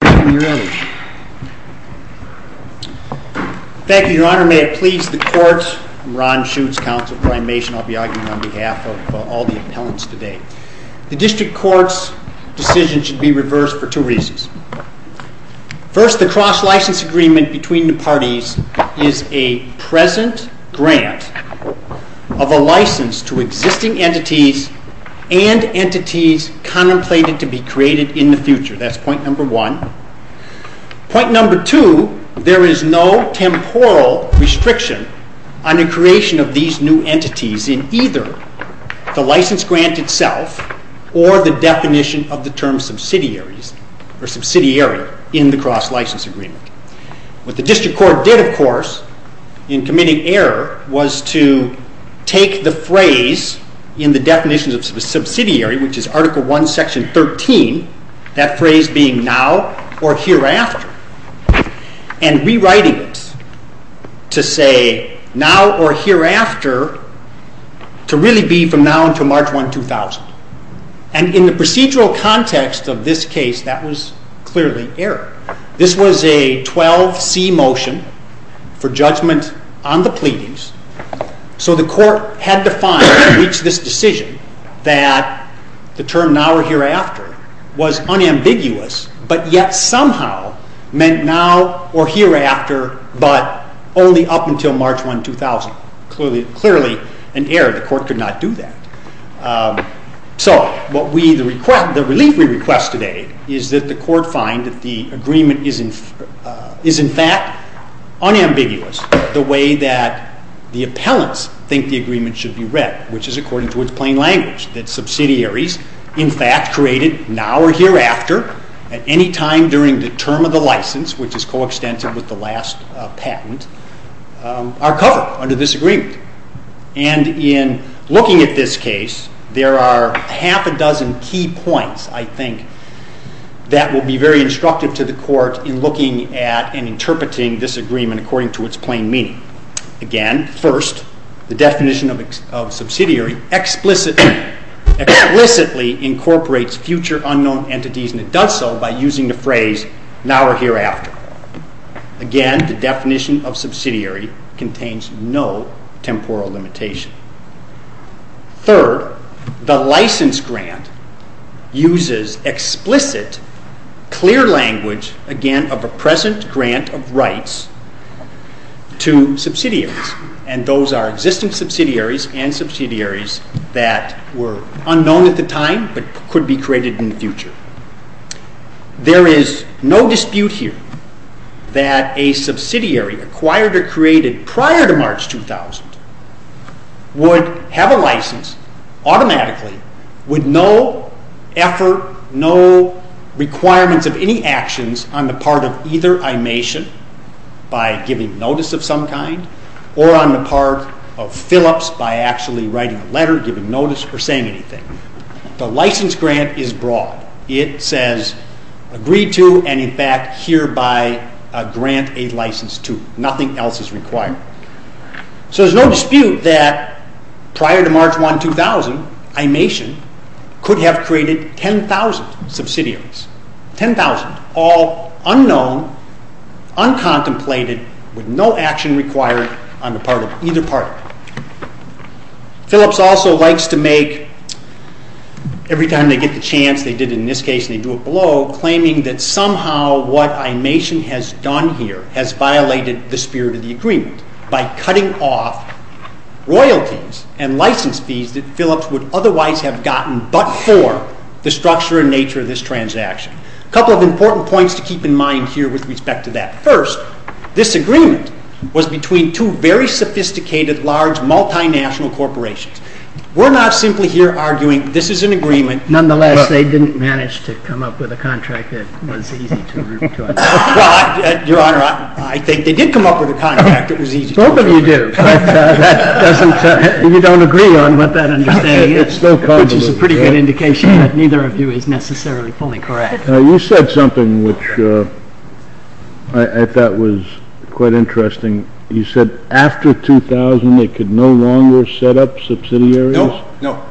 Thank you, Your Honor. May it please the Court. I'm Ron Schuetz, counsel for I-Mation. I'll be arguing on behalf of all the appellants today. The District Court's decision should be reversed for two reasons. First, the cross-license agreement between the parties is a present grant of a license to existing entities and entities contemplated to be created in the cross-license agreement. Point number two, there is no temporal restriction on the creation of these new entities in either the license grant itself or the definition of the term subsidiary in the cross-license agreement. What the District Court did, of course, in committing error, was to take the phrase in the definitions of a subsidiary, which is either now or hereafter, and rewriting it to say now or hereafter, to really be from now until March 1, 2000. And in the procedural context of this case, that was clearly error. This was a 12C motion for judgment on the pleadings, so the Court had to find and reach this decision that the term now or hereafter was unambiguous, but yet somehow meant now or hereafter, but only up until March 1, 2000. Clearly an error. The Court could not do that. So the relief we request today is that the Court find that the agreement is in fact unambiguous the way that the appellants think the agreement should be read, which is according to its plain language, that subsidiaries in fact created now or hereafter at any time during the term of the license, which is coextensive with the last patent, are covered under this agreement. And in looking at this case, there are half a dozen key points, I think, that will be very instructive to the Court in looking at and interpreting this agreement according to its plain meaning. Again, first, the definition of subsidiary explicitly incorporates future unknown entities, and it does so by using the phrase now or hereafter. Again, the definition of subsidiary contains no temporal limitation. Third, the license grant uses explicit, clear language, again, of a present grant of rights to subsidiaries, and those are existing subsidiaries and subsidiaries that were unknown at the time but could be created in the future. There is no possibility that a subsidiary acquired or created prior to March 2000 would have a license automatically with no effort, no requirements of any actions on the part of either Imation, by giving notice of some kind, or on the part of Phillips by actually writing a letter, giving notice, or saying anything. The license grant is broad. It says agreed to and in fact hereby grant a license to. Nothing else is required. So there's no dispute that prior to March 2000, Imation could have created 10,000 subsidiaries, 10,000, all unknown, uncontemplated, with no action required on the part of either party. Phillips also likes to make, every time they get the chance, they did it in this case and they do it below, claiming that somehow what Imation has done here has violated the spirit of the agreement by cutting off royalties and license fees that Phillips would otherwise have gotten but for the structure and nature of this transaction. A couple of important points to keep in mind here with respect to that. First, this agreement was between two very sophisticated, large, multinational corporations. We're not simply here arguing this is an agreement. Nonetheless, they didn't manage to come up with a contract that was easy to root to. Your Honor, I think they did come up with a contract that was easy to root to. Both of you do, but you don't agree on what that understanding is, which is a pretty good indication that neither of you is necessarily fully correct. Now you said something which I thought was quite interesting. You said after 2000, they could no longer set up subsidiaries? No.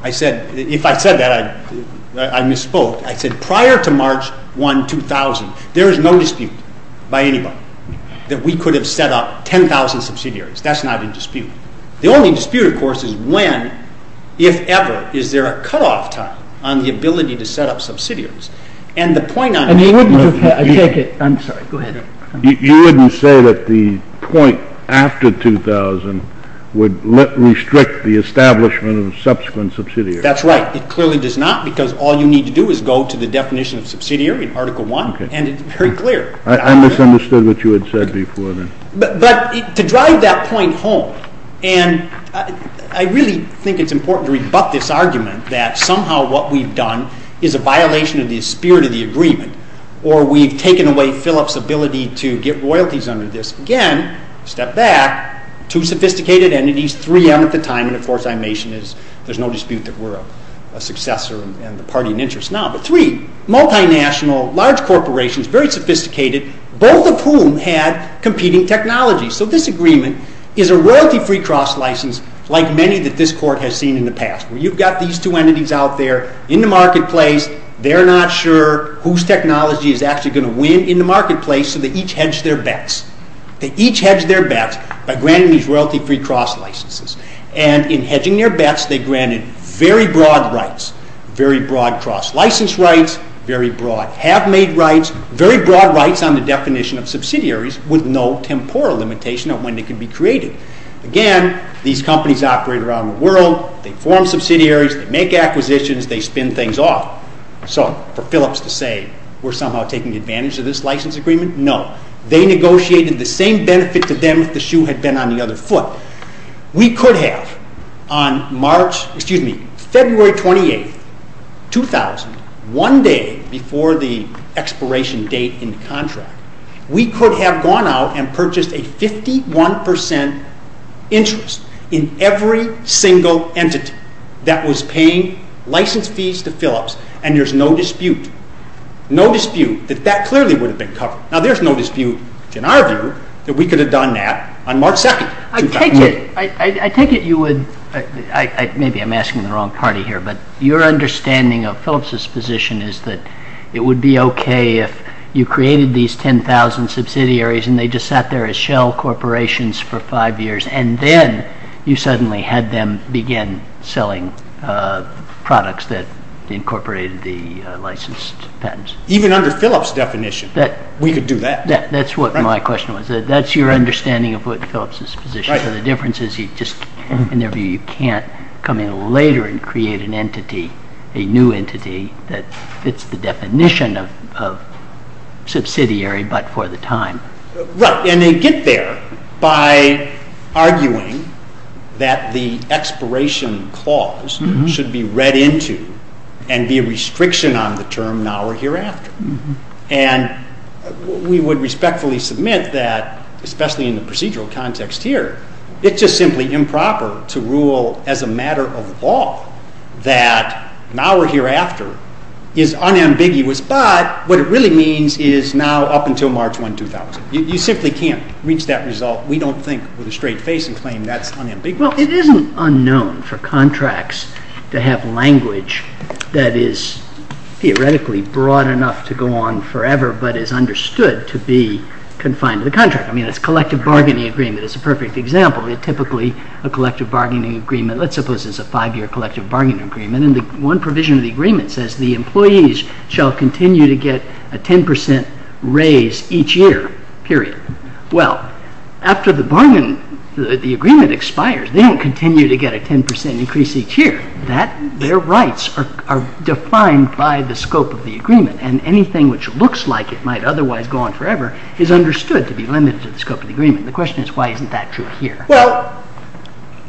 If I said that, I misspoke. I said prior to March 1, 2000, there is no dispute by anybody that we could have set up 10,000 subsidiaries. That's not in dispute. The only dispute, of course, is when, if ever, is there a cutoff time on the ability to set up subsidiaries. And the point I'm trying to make is that the point after 2000 would restrict the establishment of a subsequent subsidiary. That's right. It clearly does not, because all you need to do is go to the definition of subsidiary in Article I, and it's very clear. I misunderstood what you had said before then. But to drive that point home, and I really think it's important to rebut this argument that somehow what we've done is a violation of the spirit of the agreement, or we've taken away Phillips' ability to There's no dispute that we're a successor and the party in interest now. But three, multinational, large corporations, very sophisticated, both of whom had competing technologies. So this agreement is a royalty-free cross-license like many that this Court has seen in the past. You've got these two entities out there in the marketplace. They're not sure whose technology is actually going to win in the marketplace, so they each hedged their bets. They each hedged their bets by granting these royalty-free cross-licenses. And in hedging their bets, they granted very broad rights, very broad cross-license rights, very broad have-made rights, very broad rights on the definition of subsidiaries with no temporal limitation of when they can be created. Again, these companies operate around the world, they form subsidiaries, they make acquisitions, they spin things off. So for Phillips to say we're somehow taking advantage of this license agreement, no. They negotiated the same benefit to them if the shoe had been on the other foot. We could have on February 28, 2000, one day before the expiration date in the contract, we could have gone out and purchased a 51% interest in every single entity that was Now there's no dispute, in our view, that we could have done that on March 2, 2000. I take it you would, maybe I'm asking the wrong party here, but your understanding of Phillips' position is that it would be okay if you created these 10,000 subsidiaries and they just sat there as shell corporations for five years and then you suddenly had them begin selling products that incorporated the licensed patents. Even under Phillips' definition, we could do that. That's what my question was. That's your understanding of what Phillips' position is. The difference is, in their view, you can't come in later and create an entity, a new entity, that fits the definition of subsidiary but for the time. Right, and they get there by arguing that the expiration clause should be read into and be a restriction on the term now or hereafter. We would respectfully submit that, especially in the procedural context here, it's just simply improper to rule as a matter of law that now or hereafter is unambiguous, but what it really means is now up until March 1, 2000. You simply can't reach that result. We don't think, with a straight face and claim, that's unambiguous. Well, it isn't unknown for contracts to have language that is theoretically broad enough to go on forever but is understood to be confined to the contract. I mean, it's a collective bargaining agreement. It's a perfect example. Typically, a collective bargaining agreement, let's suppose it's a five-year collective bargaining agreement, and one provision of the agreement says the employees shall continue to get a 10% raise each year, period. Well, after the agreement expires, they don't continue to get a 10% increase each year. Their rights are defined by the scope of the agreement, and anything which looks like it might otherwise go on forever is understood to be limited to the scope of the agreement. The question is, why isn't that true here? Well,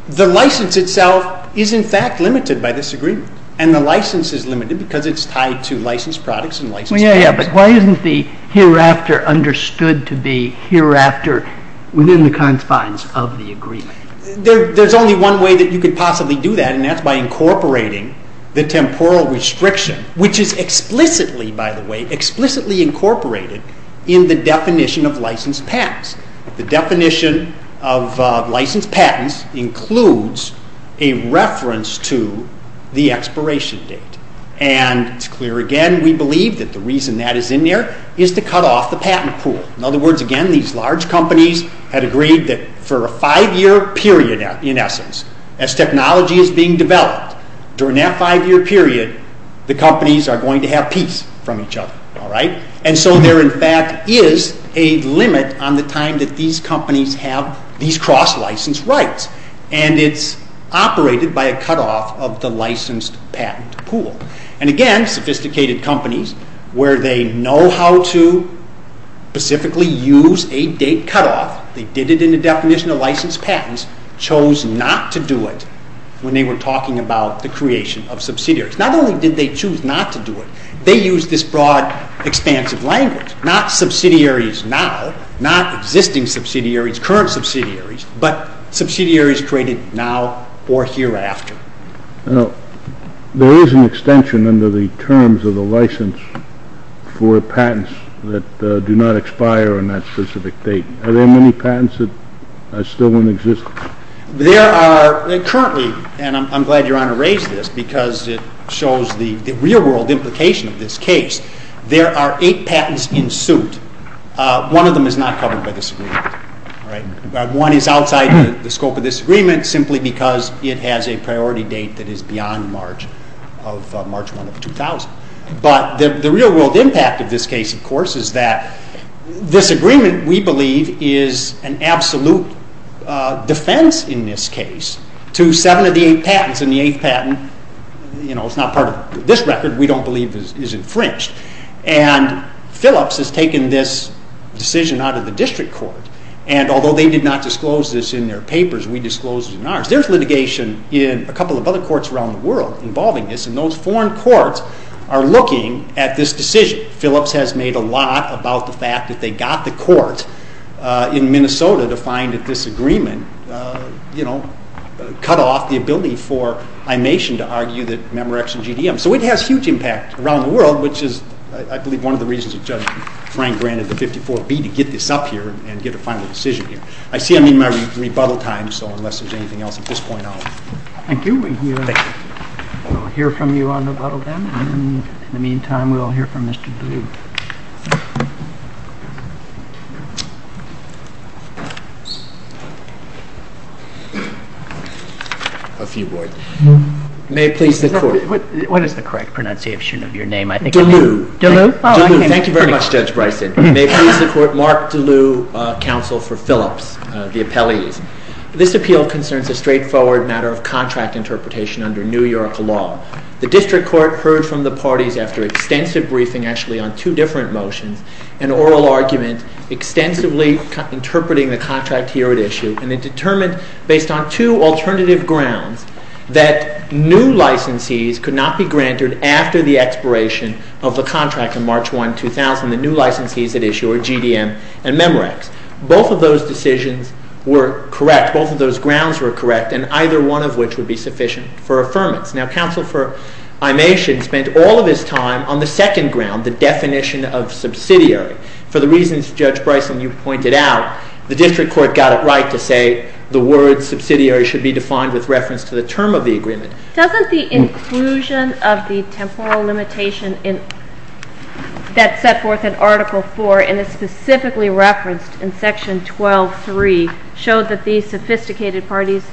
the license itself is in fact limited by this agreement, and the license is limited because it's tied to licensed products and licensed patents. Yeah, yeah, but why isn't the hereafter understood to be hereafter within the confines of the agreement? There's only one way that you could possibly do that, and that's by incorporating the temporal restriction, which is explicitly, by the way, explicitly incorporated in the definition of licensed patents. The definition of licensed patents includes a reference to the expiration date, and it's clear again, we believe that the reason that is in there is to cut off the patent pool. In other words, again, these large companies had agreed that for a five-year period, in essence, as And so there in fact is a limit on the time that these companies have these cross-license rights, and it's operated by a cut-off of the licensed patent pool. And again, sophisticated companies, where they know how to specifically use a date cut-off, they did it in the definition of licensed patents, chose not to do it when they were talking about the creation of subsidiaries. Not only did they choose not to do it, they used this broad, expansive language. Not subsidiaries now, not existing subsidiaries, current subsidiaries, but subsidiaries created now or hereafter. Now, there is an extension under the terms of the license for patents that do not expire on that specific date. Are there many patents that still don't exist? There are currently, and I'm glad Your Honor raised this, because it shows the real-world implication of this case. There are eight patents in suit. One of them is not covered by this agreement. One is outside the scope of this agreement, simply because it has a priority date that is defense in this case, to seven of the eight patents. And the eighth patent is not part of this record, we don't believe is infringed. And Phillips has taken this decision out of the district court, and although they did not disclose this in their papers, we disclosed it in ours. There's litigation in a couple of other courts around the world involving this, and those foreign courts are looking at this decision. Phillips has made a lot about the fact that they got the court in Minnesota to find that this agreement cut off the ability for I-Nation to argue that Memorex and GDM. So it has huge impact around the world, which is, I believe, one of the reasons that Judge Frank granted the 54B to get this up here and get a final decision here. I see I'm in my rebuttal time, so unless there's anything else at this point, I'll... I'll hear from you on the rebuttal then, and in the meantime, we'll hear from Mr. DeLue. A few words. May it please the Court. What is the correct pronunciation of your name? DeLue. DeLue? DeLue. Thank you very much, Judge Bryson. May it please the Court, Mark DeLue, counsel for Phillips, the appellees. This appeal concerns a straightforward matter of contract interpretation under New York law. The district court heard from the parties after extensive briefing, actually, on two different motions, an oral argument extensively interpreting the contract here at issue, and it determined, based on two alternative grounds, that new licensees could not be granted after the expiration of the contract in both of those grounds were correct, and either one of which would be sufficient for affirmance. Now, counsel for Imatien spent all of his time on the second ground, the definition of subsidiary. For the reasons Judge Bryson, you pointed out, the district court got it right to say the word subsidiary should be defined with reference to the term of the agreement. Doesn't the inclusion of the temporal limitation that's set forth in Article 4, and it's specifically referenced in Section 12.3, show that these sophisticated parties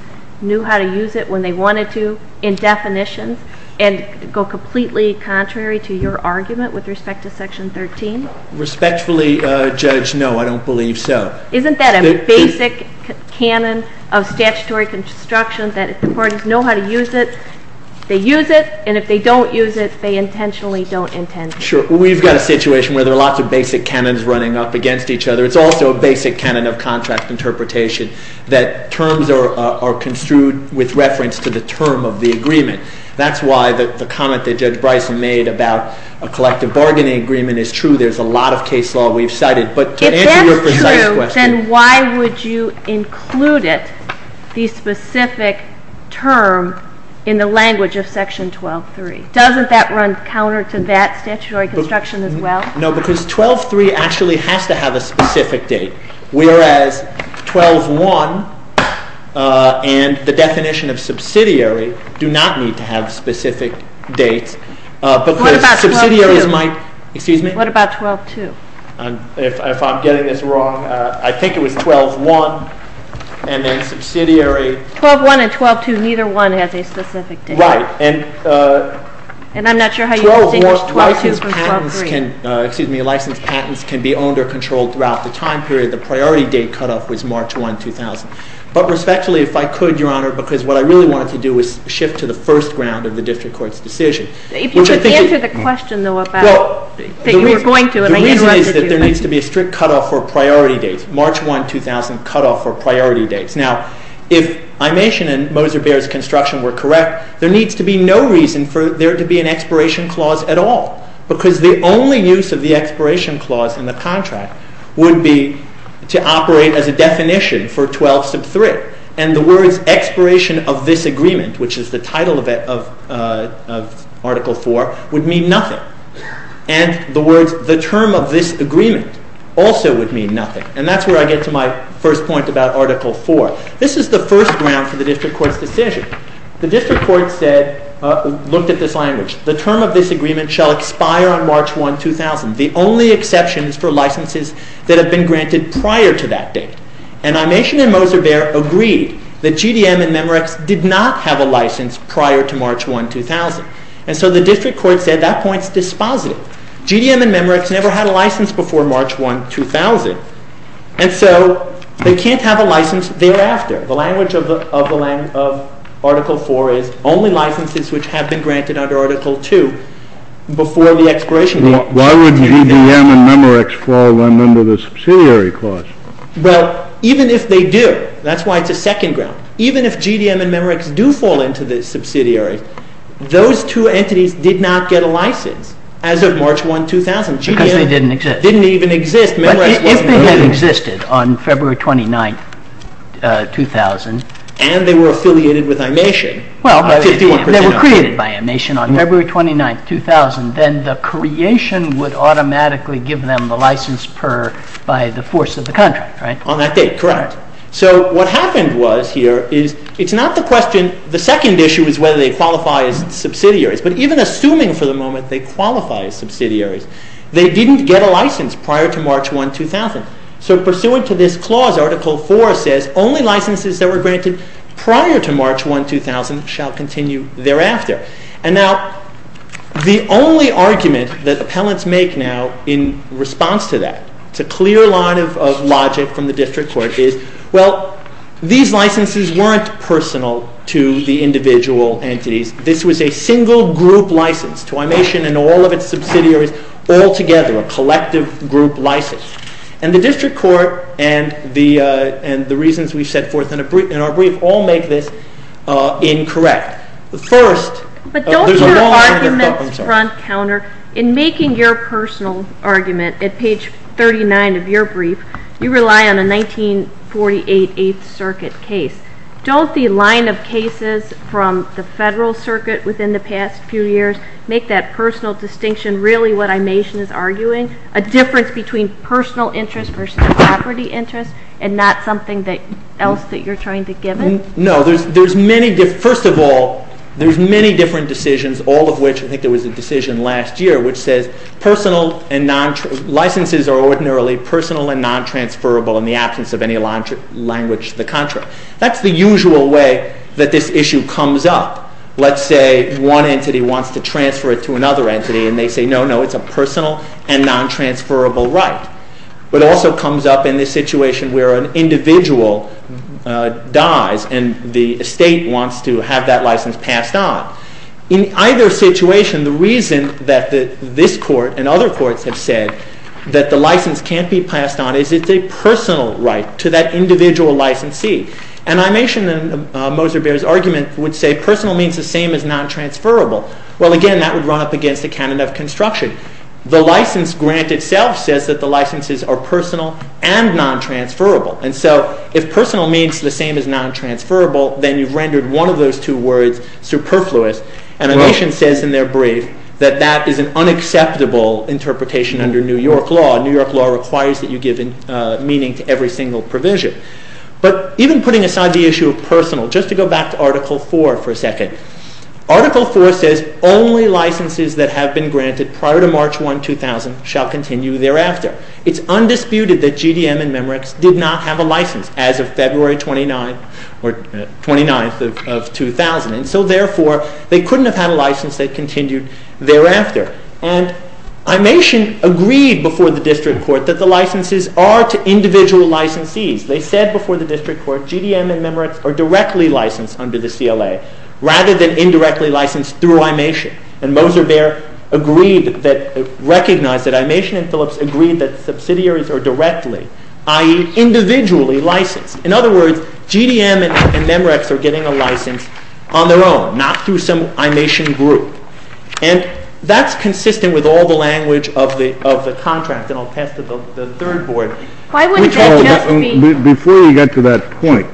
knew how to use it when they wanted to in definitions, and go completely contrary to your argument with respect to Section 13? Respectfully, Judge, no, I don't believe so. Isn't that a basic canon of statutory construction, that if the parties know how to use it, they use it, and if they don't use it, they intentionally don't intend to? Sure. We've got a situation where there are lots of basic canons running up against each other. It's also a basic canon of contract interpretation, that terms are construed with reference to the term of the agreement. That's why the comment that Judge Bryson made about a collective bargaining agreement is true. There's a lot of case law we've cited. If that's true, then why would you include it, the specific term, in the language of Section 12.3? Doesn't that run counter to that statutory construction as well? No, because 12.3 actually has to have a specific date, whereas 12.1 and the definition of subsidiary do not need to have specific dates. What about 12.2? Excuse me? What about 12.2? If I'm getting this wrong, I think it was 12.1 and then subsidiary. 12.1 and 12.2, neither one has a specific date. Right. And I'm not sure how you distinguish 12.2 from 12.3. Licensed patents can be owned or controlled throughout the time period. The priority date cutoff was March 1, 2000. But respectfully, if I could, Your Honor, because what I really wanted to do was shift to the first ground of the district court's decision. If you could answer the question, though, about that you were going to, and I interrupted you. The point is that there needs to be a strict cutoff for priority dates. March 1, 2000, cutoff for priority dates. Now, if I'm asking and Moser-Baer's construction were correct, there needs to be no reason for there to be an expiration clause at all. Because the only use of the expiration clause in the contract would be to operate as a definition for 12.3. And the words, expiration of this agreement, which is the title of Article 4, would mean nothing. And the words, the term of this agreement, also would mean nothing. And that's where I get to my first point about Article 4. This is the first ground for the district court's decision. The district court said, looked at this language. The term of this agreement shall expire on March 1, 2000. The only exception is for licenses that have been granted prior to that date. And I mentioned that Moser-Baer agreed that GDM and Memorex did not have a license prior to March 1, 2000. And so the district court said that point's dispositive. GDM and Memorex never had a license before March 1, 2000. And so they can't have a license thereafter. The language of Article 4 is only licenses which have been granted under Article 2 before the expiration date. Why would GDM and Memorex fall under the subsidiary clause? Well, even if they do, that's why it's a second ground. Even if GDM and Memorex do fall into the subsidiary, those two entities did not get a license as of March 1, 2000. Because they didn't exist. Didn't even exist. If they had existed on February 29, 2000. And they were affiliated with Imation. Well, they were created by Imation on February 29, 2000. Then the creation would automatically give them the license per, by the force of the contract, right? On that date, correct. So what happened was here is, it's not the question, the second issue is whether they qualify as subsidiaries. But even assuming for the moment they qualify as subsidiaries, they didn't get a license prior to March 1, 2000. So pursuant to this clause, Article 4 says, only licenses that were granted prior to March 1, 2000 shall continue thereafter. And now, the only argument that appellants make now in response to that, it's a clear line of logic from the district court is, well, these licenses weren't personal to the individual entities. This was a single group license to Imation and all of its subsidiaries all together. A collective group license. And the district court and the reasons we've set forth in our brief all make this incorrect. The first- But don't your arguments front counter, in making your personal argument at page 39 of your brief, you rely on a 1948 Eighth Circuit case. Don't the line of cases from the federal circuit within the past few years make that personal distinction really what Imation is arguing? A difference between personal interest versus property interest and not something else that you're trying to give it? No, first of all, there's many different decisions, all of which, I think there was a decision last year, which says licenses are ordinarily personal and non-transferable in the absence of any language to the contrary. That's the usual way that this issue comes up. Let's say one entity wants to transfer it to another entity and they say, no, no, it's a personal and non-transferable right. But it also comes up in this situation where an individual dies and the estate wants to have that license passed on. In either situation, the reason that this court and other courts have said that the license can't be passed on is it's a personal right to that individual licensee. And Imation, in Moser-Behr's argument, would say personal means the same as non-transferable. Well, again, that would run up against the canon of construction. The license grant itself says that the licenses are personal and non-transferable. And so if personal means the same as non-transferable, then you've rendered one of those two words superfluous. And Imation says in their brief that that is an unacceptable interpretation under New York law. New York law requires that you give meaning to every single provision. But even putting aside the issue of personal, just to go back to Article IV for a second, Article IV says only licenses that have been granted prior to March 1, 2000 shall continue thereafter. It's undisputed that GDM and Memorex did not have a license as of February 29th of 2000. And so therefore, they couldn't have had a license that continued thereafter. And Imation agreed before the district court that the licenses are to individual licensees. They said before the district court GDM and Memorex are directly licensed under the CLA. Rather than indirectly licensed through Imation. And Moser Bear recognized that Imation and Phillips agreed that subsidiaries are directly, i.e. individually licensed. In other words, GDM and Memorex are getting a license on their own. Not through some Imation group. And that's consistent with all the language of the contract. And I'll pass it to the third board. Why wouldn't that just be... Before we get to that point,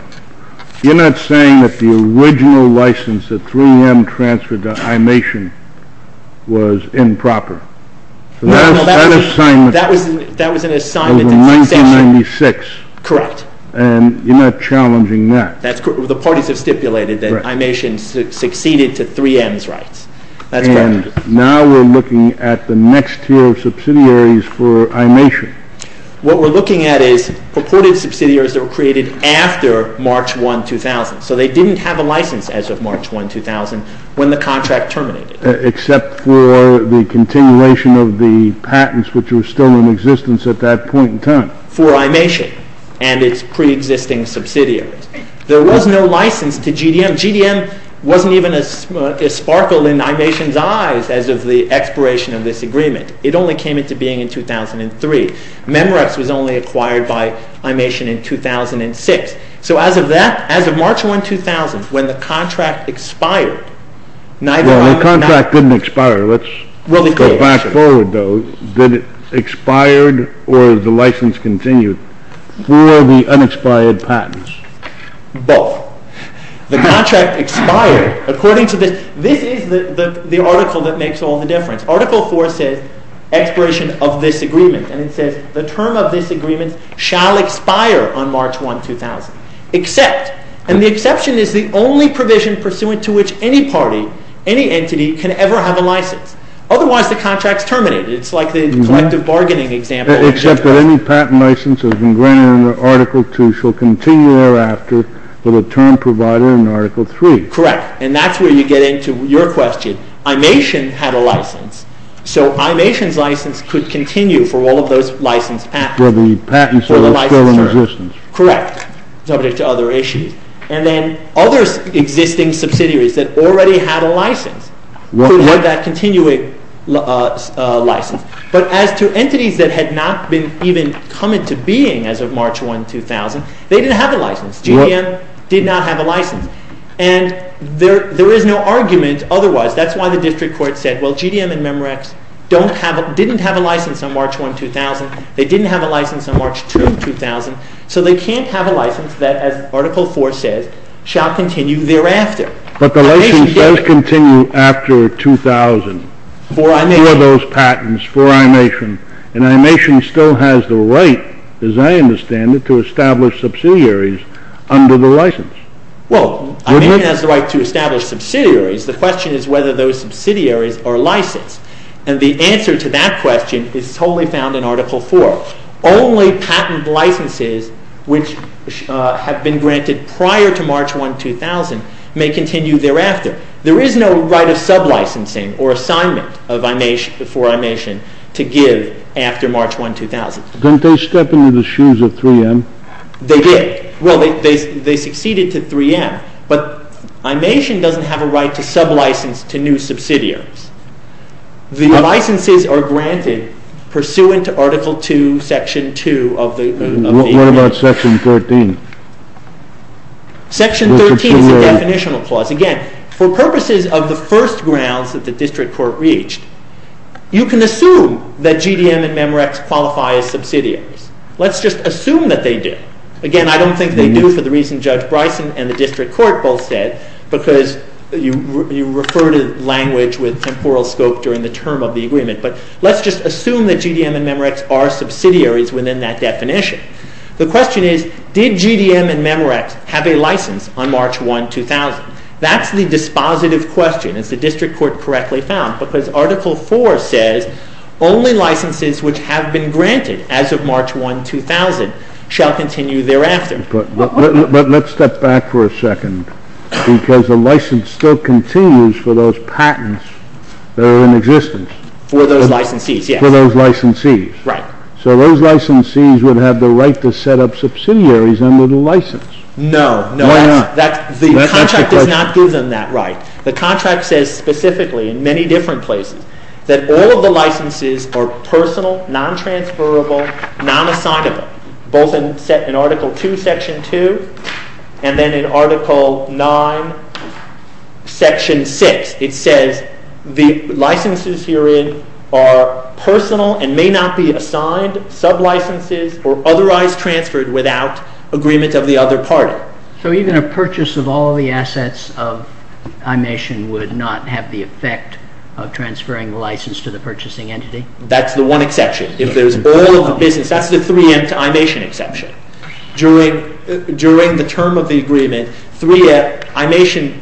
you're not saying that the original license that 3M transferred to Imation was improper. No, no, that was an assignment. That was an assignment. Over 1996. Correct. And you're not challenging that. The parties have stipulated that Imation succeeded to 3M's rights. That's correct. And now we're looking at the next tier of subsidiaries for Imation. What we're looking at is purported subsidiaries that were created after March 1, 2000. So they didn't have a license as of March 1, 2000 when the contract terminated. Except for the continuation of the patents which were still in existence at that point in time. For Imation and its pre-existing subsidiaries. There was no license to GDM. GDM wasn't even a sparkle in Imation's eyes as of the expiration of this agreement. It only came into being in 2003. Memorex was only acquired by Imation in 2006. So as of that, as of March 1, 2000, when the contract expired... Well, the contract didn't expire. Let's go back forward, though. Did it expire or the license continued for the unexpired patents? Both. The contract expired according to this. This is the article that makes all the difference. Article 4 says, expiration of this agreement. And it says, the term of this agreement shall expire on March 1, 2000. Except, and the exception is the only provision pursuant to which any party, any entity, can ever have a license. Otherwise, the contract's terminated. It's like the collective bargaining example. Except that any patent license that has been granted under Article 2 shall continue thereafter with a term provided in Article 3. Correct. And that's where you get into your question. Imation had a license. So Imation's license could continue for all of those licensed patents. For the patents that are still in existence. Correct, subject to other issues. And then other existing subsidiaries that already had a license could have that continuing license. But as to entities that had not even come into being as of March 1, 2000, they didn't have a license. GDM did not have a license. And there is no argument otherwise. That's why the district court said, well, GDM and Memorex didn't have a license on March 1, 2000. They didn't have a license on March 2, 2000. So they can't have a license that, as Article 4 says, shall continue thereafter. But the license does continue after 2000. For Imation. For those patents, for Imation. And Imation still has the right, as I understand it, to establish subsidiaries under the license. Well, Imation has the right to establish subsidiaries. The question is whether those subsidiaries are licensed. And the answer to that question is totally found in Article 4. Only patent licenses which have been granted prior to March 1, 2000 may continue thereafter. There is no right of sub-licensing or assignment for Imation to give after March 1, 2000. Didn't they step into the shoes of 3M? They did. Well, they succeeded to 3M. But Imation doesn't have a right to sub-license to new subsidiaries. The licenses are granted pursuant to Article 2, Section 2 of the amendment. What about Section 13? Section 13 is a definitional clause. Again, for purposes of the first grounds that the District Court reached, you can assume that GDM and Memorex qualify as subsidiaries. Let's just assume that they do. Again, I don't think they do for the reason Judge Bryson and the District Court both said, because you refer to language with temporal scope during the term of the agreement. But let's just assume that GDM and Memorex are subsidiaries within that definition. The question is, did GDM and Memorex have a license on March 1, 2000? That's the dispositive question, as the District Court correctly found, because Article 4 says, only licenses which have been granted as of March 1, 2000, shall continue thereafter. But let's step back for a second, because the license still continues for those patents that are in existence. For those licensees, yes. For those licensees. Right. So those licensees would have the right to set up subsidiaries under the license. No, no. Why not? The contract does not give them that right. The contract says specifically, in many different places, that all of the licenses are personal, non-transferable, non-assignable. Both in Article 2, Section 2, and then in Article 9, Section 6, it says the licenses herein are personal and may not be assigned, sub-licenses, or otherwise transferred without agreement of the other party. So even a purchase of all the assets of Imation would not have the effect of transferring the license to the purchasing entity? That's the one exception. If there's all of the business, that's the 3M to Imation exception. During the term of the agreement, Imation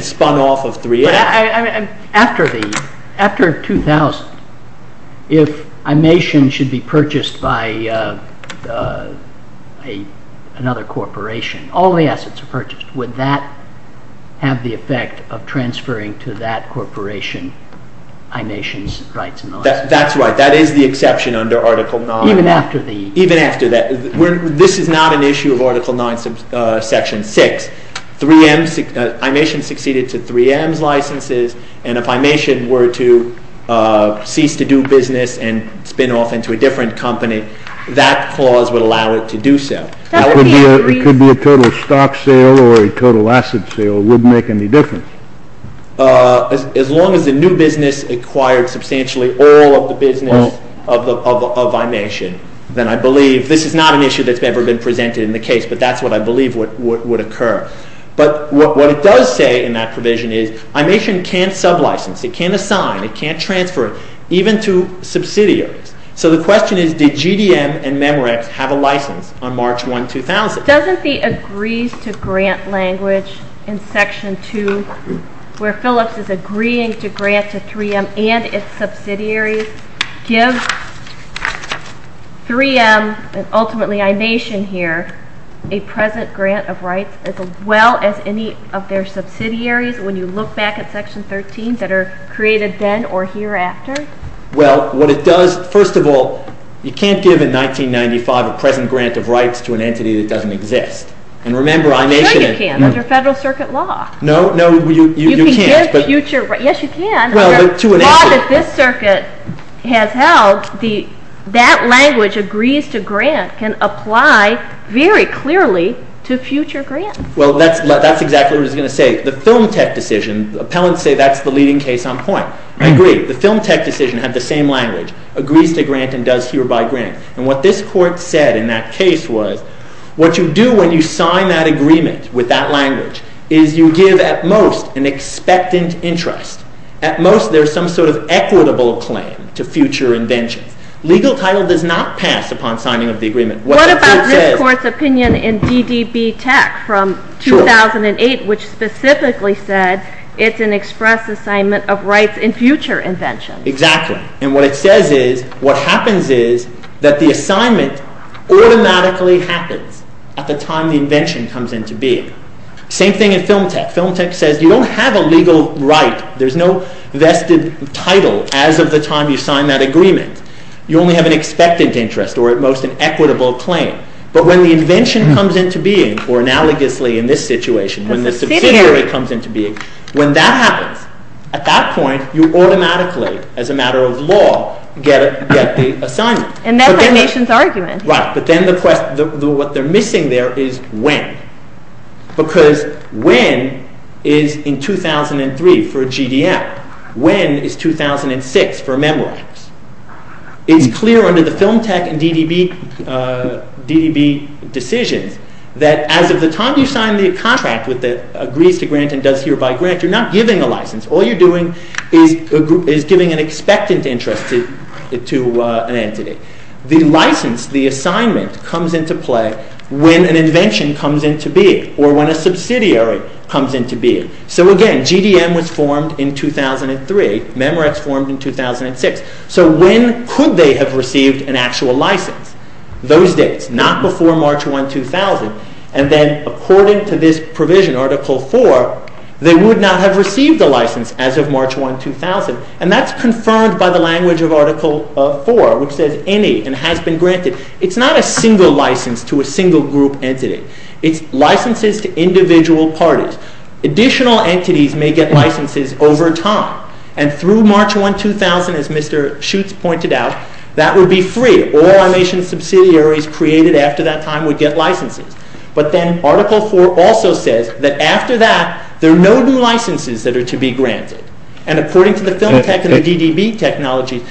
spun off of 3M. After 2000, if Imation should be purchased by another corporation, all the assets are purchased, would that have the effect of transferring to that corporation Imation's rights and licenses? That's right. That is the exception under Article 9. Even after the... Even after that. This is not an issue of Article 9, Section 6. Imation succeeded to 3M's licenses, and if Imation were to cease to do business and spin off into a different company, that clause would allow it to do so. It could be a total stock sale or a total asset sale. It wouldn't make any difference. As long as the new business acquired substantially all of the business of Imation, then I believe... This is not an issue that's ever been presented in the case, but that's what I believe would occur. But what it does say in that provision is Imation can't sub-license. It can't assign. It can't transfer even to subsidiaries. So the question is, did GDM and Memorex have a license on March 1, 2000? Doesn't the agrees-to-grant language in Section 2, where Phillips is agreeing to grant to 3M and its subsidiaries, give 3M and ultimately Imation here a present grant of rights as well as any of their subsidiaries when you look back at Section 13 that are created then or hereafter? Well, what it does, first of all, you can't give in 1995 a present grant of rights to an entity that doesn't exist. And remember, Imation... Sure you can, under Federal Circuit law. No, no, you can't. Yes, you can. Under law that this circuit has held, that language, agrees-to-grant, can apply very clearly to future grants. Well, that's exactly what it's going to say. The Film Tech decision, appellants say that's the leading case on point. I agree. The Film Tech decision had the same language, agrees-to-grant and does hereby grant. And what this Court said in that case was what you do when you sign that agreement with that language is you give at most an expectant interest. At most there's some sort of equitable claim to future inventions. Legal title does not pass upon signing of the agreement. What about this Court's opinion in DDB Tech from 2008 which specifically said it's an express assignment of rights in future inventions? Exactly. And what it says is what happens is that the assignment automatically happens at the time the invention comes into being. Same thing in Film Tech. Film Tech says you don't have a legal right. There's no vested title as of the time you sign that agreement. You only have an expectant interest or at most an equitable claim. But when the invention comes into being, or analogously in this situation, when the subsidiary comes into being, when that happens, at that point you automatically, as a matter of law, get the assignment. And that's our nation's argument. Right, but then what they're missing there is when. Because when is in 2003 for a GDL. When is 2006 for a memoir. It's clear under the Film Tech and DDB decisions that as of the time you sign the contract with the Agrees to Grant and Does Hereby grant, you're not giving a license. All you're doing is giving an expectant interest to an entity. The license, the assignment comes into play when an invention comes into being or when a subsidiary comes into being. So again, GDL was formed in 2003. Memorex formed in 2006. So when could they have received an actual license? Those dates, not before March 1, 2000. And then according to this provision, Article 4, they would not have received a license as of March 1, 2000. And that's confirmed by the language of Article 4 which says any and has been granted. It's not a single license to a single group entity. It's licenses to individual parties. Additional entities may get licenses over time. And through March 1, 2000, as Mr. Schutz pointed out, that would be free. All our nation's subsidiaries created after that time would get licenses. But then Article 4 also says that after that, there are no new licenses that are to be granted. And according to the Film Tech and the DDB technology,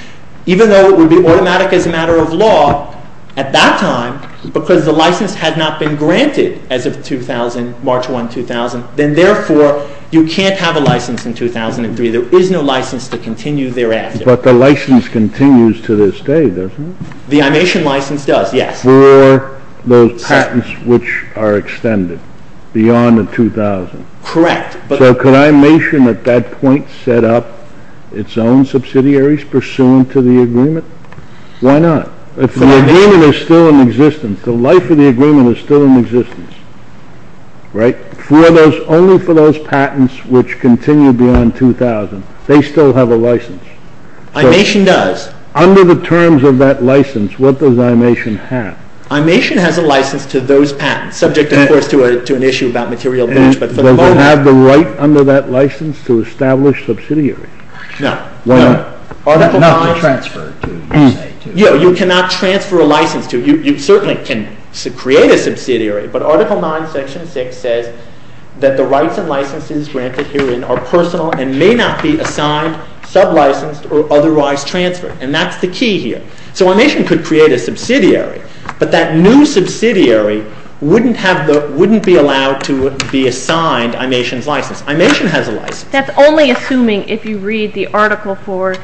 even though it would be automatic as a matter of law, at that time, because the license had not been granted as of 2000, March 1, 2000, then therefore you can't have a license in 2003. There is no license to continue thereafter. But the license continues to this day, doesn't it? The I-Nation license does, yes. For those patents which are extended beyond the 2000. Correct. So could I-Nation at that point set up its own subsidiaries pursuant to the agreement? Why not? If the agreement is still in existence, the life of the agreement is still in existence, right? Only for those patents which continue beyond 2000. They still have a license. I-Nation does. Under the terms of that license, what does I-Nation have? I-Nation has a license to those patents, subject, of course, to an issue about material damage. And does it have the right under that license to establish subsidiaries? No. Not to transfer to, you say. You cannot transfer a license to. You certainly can create a subsidiary. But Article 9, Section 6 says that the rights and licenses granted herein are personal and may not be assigned, sub-licensed, or otherwise transferred. And that's the key here. So I-Nation could create a subsidiary, but that new subsidiary wouldn't be allowed to be assigned I-Nation's license. I-Nation has a license. That's only assuming if you read the article for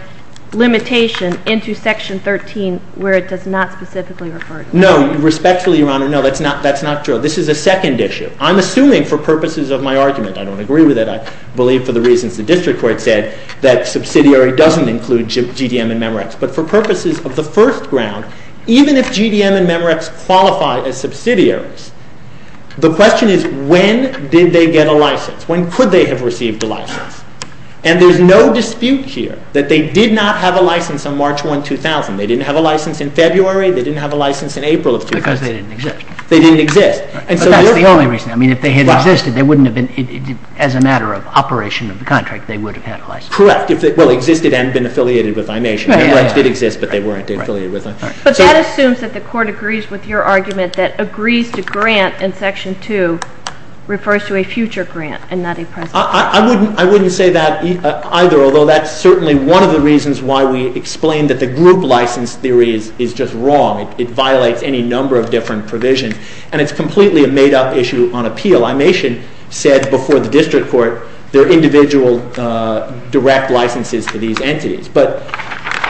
limitation into Section 13, where it does not specifically refer to that. Respectfully, Your Honor, no. That's not true. This is a second issue. I'm assuming, for purposes of my argument, I don't agree with it. I believe for the reasons the district court said, that subsidiary doesn't include GDM and Memorex. But for purposes of the first ground, even if GDM and Memorex qualify as subsidiaries, the question is, when did they get a license? When could they have received a license? And there's no dispute here that they did not have a license on March 1, 2000. They didn't have a license in February. They didn't have a license in April of 2000. Because they didn't exist. They didn't exist. But that's the only reason. I mean, if they had existed, as a matter of operation of the contract, they would have had a license. Correct. Well, existed and been affiliated with I-Nation. Memorex did exist, but they weren't affiliated with them. But that assumes that the court agrees with your argument that agrees to grant in Section 2 refers to a future grant, and not a present one. I wouldn't say that either, although that's certainly one of the reasons why we explain that the group license theory is just wrong. It violates any number of different provisions. And it's completely a made-up issue on appeal. I-Nation said before the district court there are individual direct licenses to these entities. But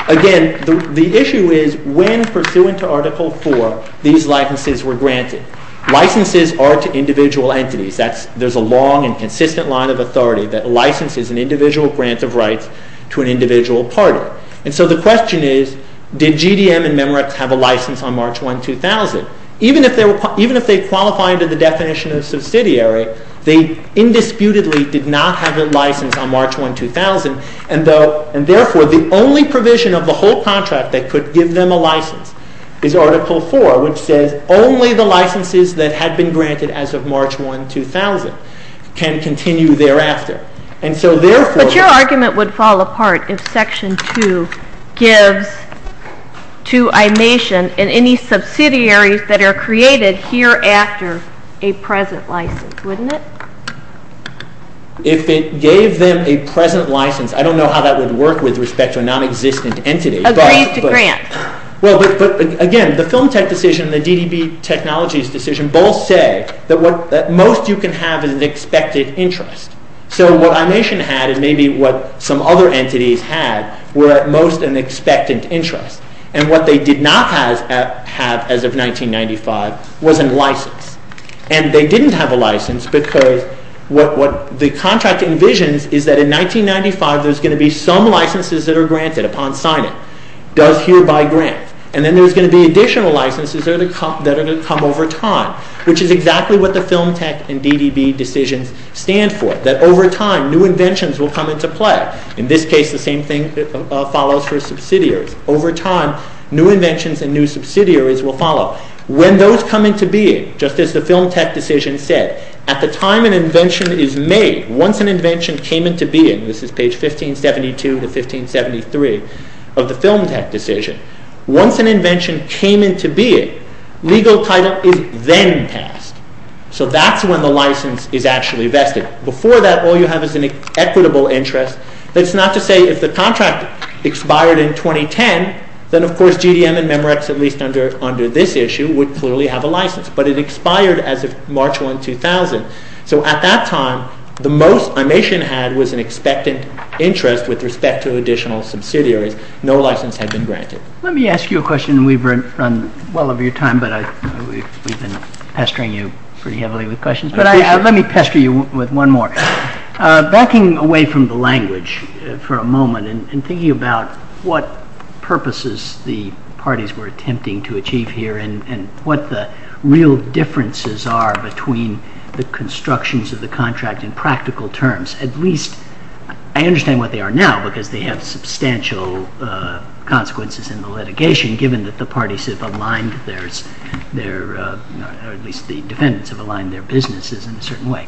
again, the issue is, when pursuant to Article 4, these licenses were granted. Licenses are to individual entities. There's a long and consistent line of authority that licenses an individual grant of rights to an individual party. And so the question is, did GDM and Memorex have a license on March 1, 2000? Even if they qualify under the definition of subsidiary, they indisputably did not have a license on March 1, 2000. And therefore, the only provision of the whole contract that could give them a license is Article 4, which says only the licenses that had been granted as of March 1, 2000 can continue thereafter. And so therefore... But your argument would fall apart if Section 2 gives to I-Nation and any subsidiaries that are created hereafter a present license, wouldn't it? If it gave them a present license, I don't know how that would work with respect to a nonexistent entity. Agrees to grant. Well, but again, the Film Tech decision and the DDB Technologies decision both say that most you can have is an expected interest. So what I-Nation had is maybe what some other entities had were at most an expectant interest. And what they did not have as of 1995 was a license. And they didn't have a license because what the contract envisions is that in 1995 there's going to be some licenses that are granted upon signing. Does hereby grant. And then there's going to be additional licenses that are to come over time, which is exactly what the Film Tech and DDB decisions stand for. That over time, new inventions will come into play. In this case, the same thing follows for subsidiaries. Over time, new inventions and new subsidiaries will follow. When those come into being, just as the Film Tech decision said, at the time an invention is made, once an invention came into being, this is page 1572 to 1573 of the Film Tech decision, once an invention came into being, legal title is then passed. So that's when the license is actually vested. Before that, all you have is an equitable interest. That's not to say if the contract expired in 2010, then of course GDM and Memorex, at least under this issue, would clearly have a license. But it expired as of March 1, 2000. So at that time, the most Imation had was an expectant interest with respect to additional subsidiaries. No license had been granted. Let me ask you a question. We've run well over your time, but we've been pestering you pretty heavily with questions. But let me pester you with one more. Backing away from the language for a moment and thinking about what purposes the parties were attempting to achieve here and what the real differences are between the constructions of the contract in practical terms, at least I understand what they are now because they have substantial consequences in the litigation given that the parties have aligned their, or at least the defendants have aligned their businesses in a certain way.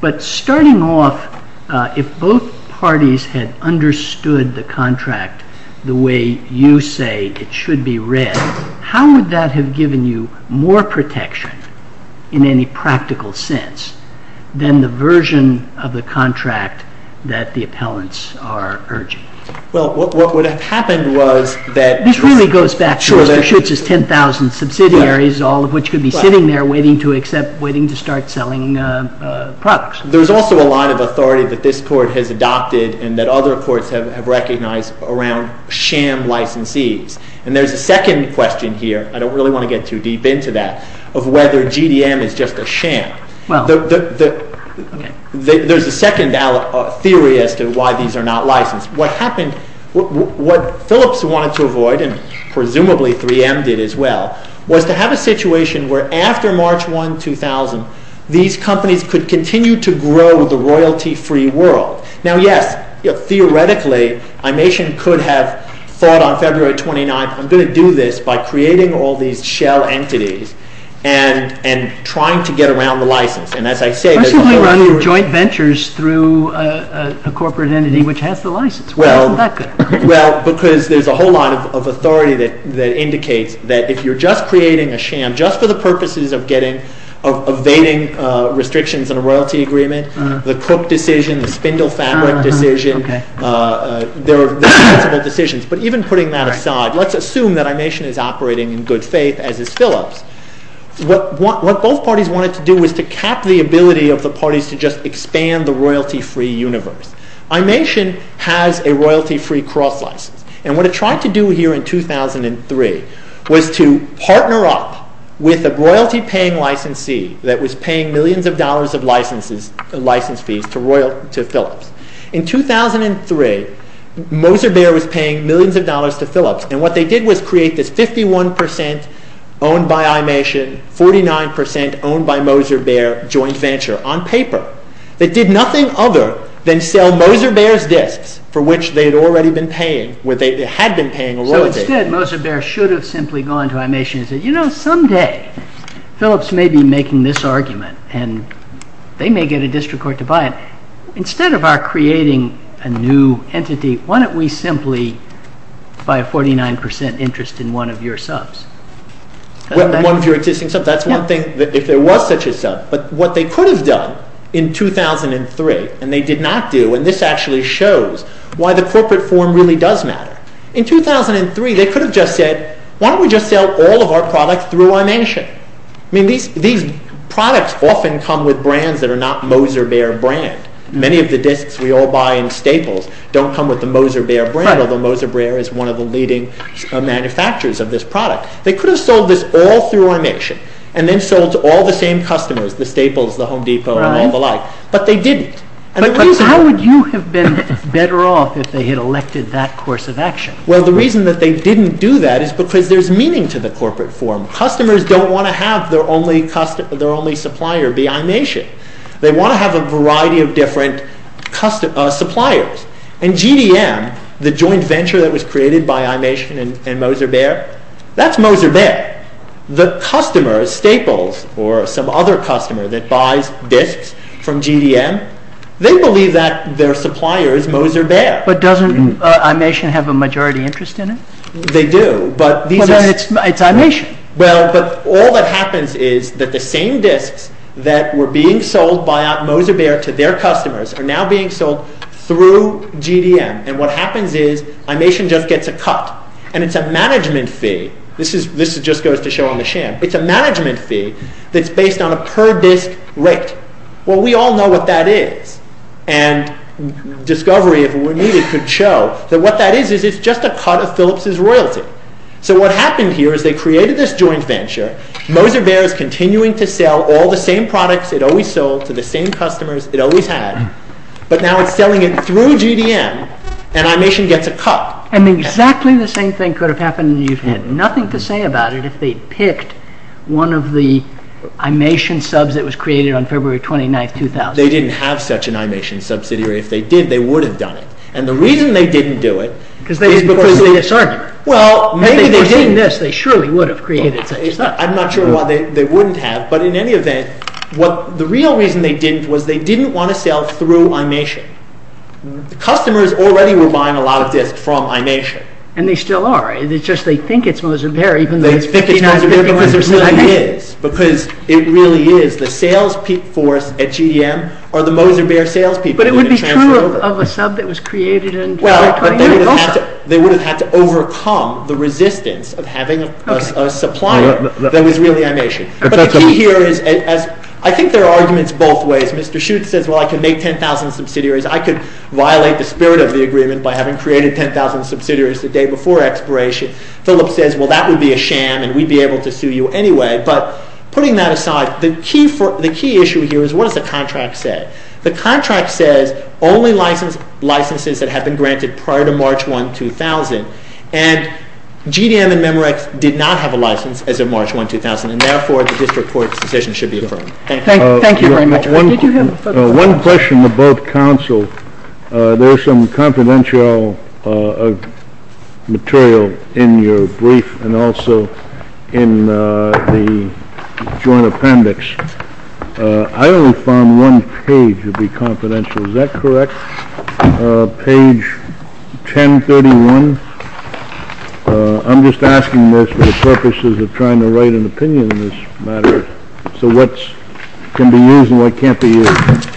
But starting off, if both parties had understood the contract the way you say it should be read, how would that have given you more protection in any practical sense than the version of the contract that the appellants are urging? Well, what would have happened was that... This really goes back to Mr. Schutz's 10,000 subsidiaries all of which could be sitting there waiting to start selling products. There's also a lot of authority that this court has adopted and that other courts have recognized around sham licensees. And there's a second question here, I don't really want to get too deep into that, of whether GDM is just a sham. There's a second theory as to why these are not licensed. What happened, what Phillips wanted to avoid and presumably 3M did as well, was to have a situation where after March 1, 2000 these companies could continue to grow the royalty-free world. Now yes, theoretically Imation could have thought on February 29th I'm going to do this by creating all these shell entities and trying to get around the license. And as I say... Why should we run joint ventures through a corporate entity which has the license? Why isn't that good? Well, because there's a whole lot of authority that indicates that if you're just creating a sham, just for the purposes of evading restrictions on a royalty agreement, the Cook decision, the Spindle Fabric decision, they're responsible decisions. But even putting that aside, let's assume that Imation is operating in good faith, as is Phillips. What both parties wanted to do was to cap the ability of the parties to just expand the royalty-free universe. Imation has a royalty-free cross license. And what it tried to do here in 2003 was to partner up with a royalty-paying licensee that was paying millions of dollars of license fees to Phillips. In 2003, Moser Bear was paying millions of dollars to Phillips. And what they did was create this 51% owned by Imation, 49% owned by Moser Bear joint venture on paper that did nothing other than sell Moser Bear's disks for which they had already been paying, or they had been paying a royalty. So instead, Moser Bear should have simply gone to Imation and said, you know, someday Phillips may be making this argument and they may get a district court to buy it. Instead of our creating a new entity, why don't we simply buy a 49% interest in one of your subs? One of your existing subs. That's one thing, if there was such a sub. But what they could have done in 2003, and they did not do, and this actually shows why the corporate form really does matter. In 2003, they could have just said, why don't we just sell all of our products through Imation? I mean, these products often come with brands that are not Moser Bear brand. Many of the disks we all buy in Staples don't come with the Moser Bear brand, although Moser Bear is one of the leading manufacturers of this product. They could have sold this all through Imation and then sold to all the same customers, the Staples, the Home Depot, and all the like, but they didn't. But how would you have been better off if they had elected that course of action? Well, the reason that they didn't do that is because there's meaning to the corporate form. Customers don't want to have their only supplier be Imation. They want to have a variety of different suppliers. And GDM, the joint venture that was created by Imation and Moser Bear, that's Moser Bear. The customers, Staples or some other customer that buys disks from GDM, they believe that their supplier is Moser Bear. But doesn't Imation have a majority interest in it? They do, but these are... But it's Imation. Well, but all that happens is that the same disks that were being sold by Moser Bear to their customers are now being sold through GDM. And what happens is Imation just gets a cut. And it's a management fee. This just goes to show on the sham. It's a management fee that's based on a per-disk rate. Well, we all know what that is. And discovery, if it were needed, could show that what that is is it's just a cut of Philips' royalty. So what happened here is they created this joint venture. Moser Bear is continuing to sell all the same products it always sold to the same customers it always had, but now it's selling it through GDM, and Imation gets a cut. And exactly the same thing could have happened and you'd have had nothing to say about it if they'd picked one of the Imation subs that was created on February 29, 2000. They didn't have such an Imation subsidiary. If they did, they would have done it. And the reason they didn't do it... Because they didn't pursue this argument. If they pursued this, they surely would have created such a sub. I'm not sure why they wouldn't have, but in any event, the real reason they didn't was they didn't want to sell through Imation. The customers already were buying a lot of disks from Imation. And they still are. It's just they think it's Moser Bear, even though... They think it's Moser Bear because it really is. Because it really is. The sales force at GDM are the Moser Bear sales people. But it would be true of a sub that was created... They would have had to overcome the resistance of having a supplier that was really Imation. But the key here is... I think there are arguments both ways. Mr. Shute says, well, I can make 10,000 subsidiaries. I could violate the spirit of the agreement by having created 10,000 subsidiaries the day before expiration. Philip says, well, that would be a sham and we'd be able to sue you anyway. But putting that aside, the key issue here is what does the contract say? The contract says only licenses that have been granted prior to March 1, 2000. And GDM and Memorex did not have a license as of March 1, 2000. And therefore, the district court's decision should be affirmed. Thank you very much. One question about counsel. There is some confidential material in your brief and also in the joint appendix. I only found one page to be confidential. Is that correct? Page 1031. I'm just asking this for the purposes of trying to write an opinion on this matter. So what can be used and what can't be used.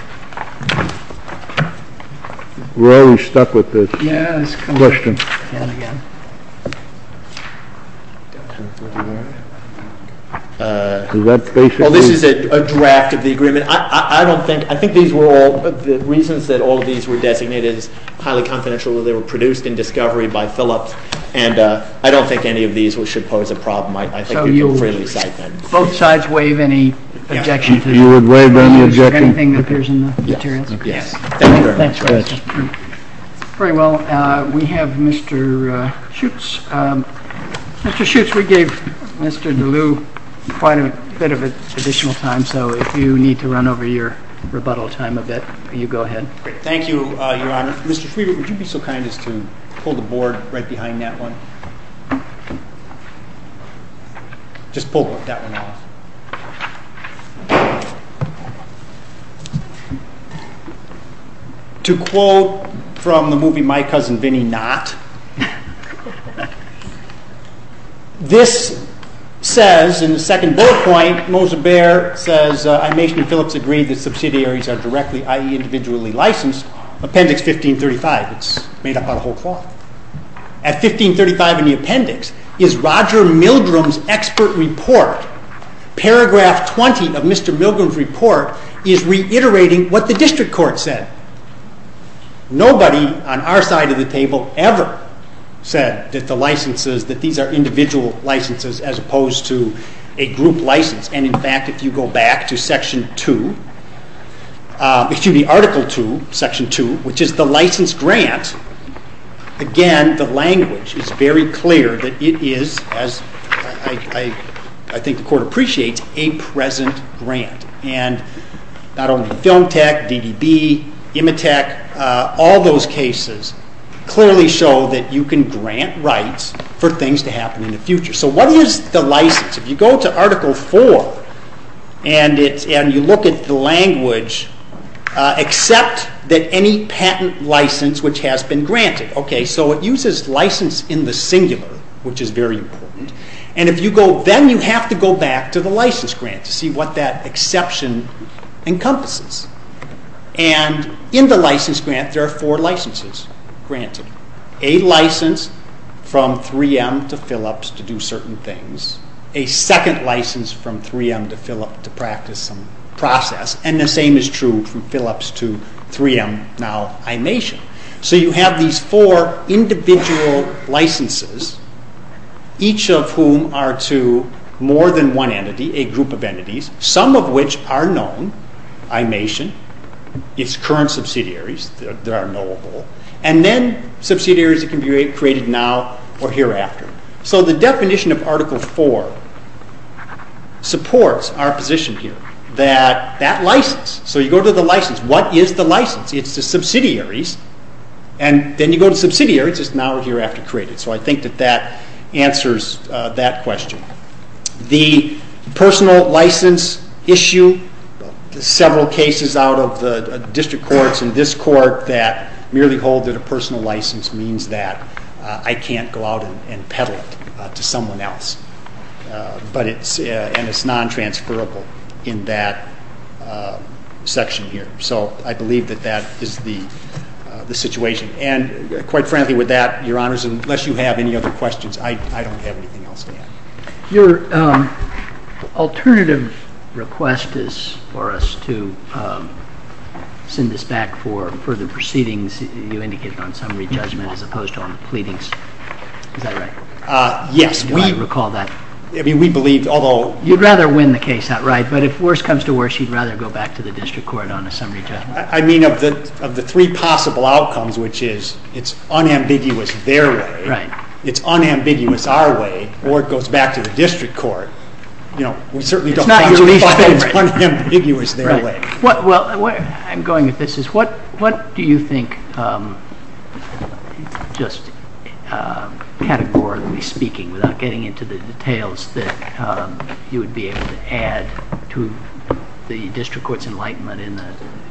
We're always stuck with this question. Is that basically... This is a draft of the agreement. I don't think... I think these were all... The reasons that all of these were designated is highly confidential. They were produced in discovery by Phillips. And I don't think any of these should pose a problem. I think you can freely cite them. Both sides waive any objection? You would waive any objection? Anything that appears in the materials? Yes. Thank you very much. Very well. We have Mr. Schutz. Mr. Schutz, we gave Mr. DeLue quite a bit of additional time. So if you need to run over your rebuttal time a bit, you go ahead. Thank you, Your Honor. Mr. Schwiebert, would you be so kind as to pull the board right behind that one? Just pull that one off. To quote from the movie My Cousin Vinnie Not, this says in the second bullet point, Moser Bear says, I, Mason, and Phillips agree that subsidiaries are directly, i.e., individually licensed. Appendix 1535. It's made up out of whole cloth. At 1535 in the appendix is Roger Milgram's expert report. Paragraph 20 of Mr. Milgram's report is reiterating what the district court said. Nobody on our side of the table ever said that these are individual licenses as opposed to a group license. In fact, if you go back to Article 2, Section 2, which is the license grant, again, the language is very clear that it is, as I think the court appreciates, a present grant. Not only Film Tech, DDB, Imitech, all those cases clearly show that you can grant rights for things to happen in the future. So what is the license? If you go to Article 4 and you look at the language, except that any patent license which has been granted. So it uses license in the singular, which is very important. Then you have to go back to the license grant to see what that exception encompasses. And in the license grant there are four licenses granted. A license from 3M to Philips to do certain things. A second license from 3M to Philips to practice some process. And the same is true from Philips to 3M, now Imation. So you have these four individual licenses, each of whom are to more than one entity, a group of entities, some of which are known, Imation. Its current subsidiaries that are knowable. And then subsidiaries that can be created now or hereafter. So the definition of Article 4 supports our position here. That license, so you go to the license. What is the license? It's the subsidiaries. And then you go to subsidiaries. It's now or hereafter created. So I think that answers that question. The personal license issue, several cases out of the district courts and this court that merely hold that a personal license means that I can't go out and peddle it to someone else. And it's non-transferable in that section here. So I believe that that is the situation. And quite frankly with that, Your Honors, unless you have any other questions, I don't have anything else to add. Your alternative request is for us to send this back for further proceedings you indicated on summary judgment as opposed to on the pleadings. Is that right? Yes. Do I recall that? I mean, we believe, although... You'd rather win the case outright, but if worse comes to worse, you'd rather go back to the district court on a summary judgment. I mean, of the three possible outcomes, which is it's unambiguous their way, it's unambiguous our way, or it goes back to the district court, we certainly don't find it's unambiguous their way. Well, I'm going with this. What do you think, just categorically speaking, without getting into the details, that you would be able to add to the district court's enlightenment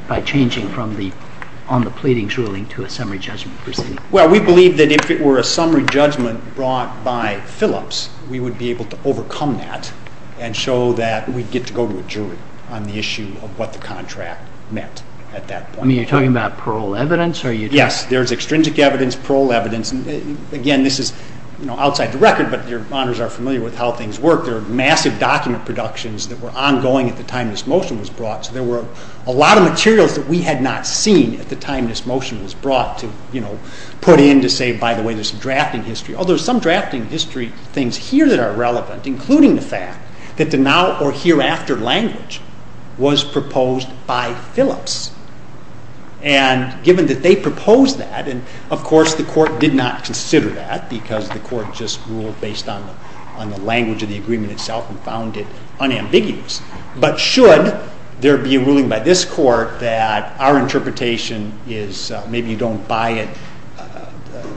by changing from the on the pleadings ruling to a summary judgment proceeding? Well, we believe that if it were a summary judgment brought by Phillips, we would be able to overcome that and show that we'd get to go to a jury on the issue of what the contract meant at that point. You're talking about parole evidence? Yes. There's extrinsic evidence, parole evidence. Again, this is outside the record, but your honors are familiar with how things work. There are massive document productions that were ongoing at the time this motion was brought, so there were a lot of materials that we had not seen at the time this motion was brought to put in to say, by the way, there's some drafting history. Although there's some drafting history things here that are relevant, including the fact that the now or hereafter language was proposed by Phillips. And given that they proposed that, and of course the court did not consider that because the court just ruled based on the language of the agreement itself and found it unambiguous. But should there be a ruling by this court that our interpretation is maybe you don't buy it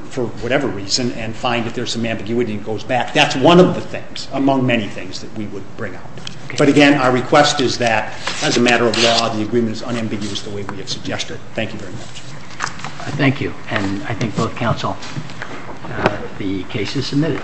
for whatever reason and find if there's some ambiguity and it goes back, that's one of the things among many things that we would bring up. But again, our request is that as a matter of law the agreement is unambiguous the way we have suggested it. Thank you very much. Thank you. And I thank both counsel. The case is submitted.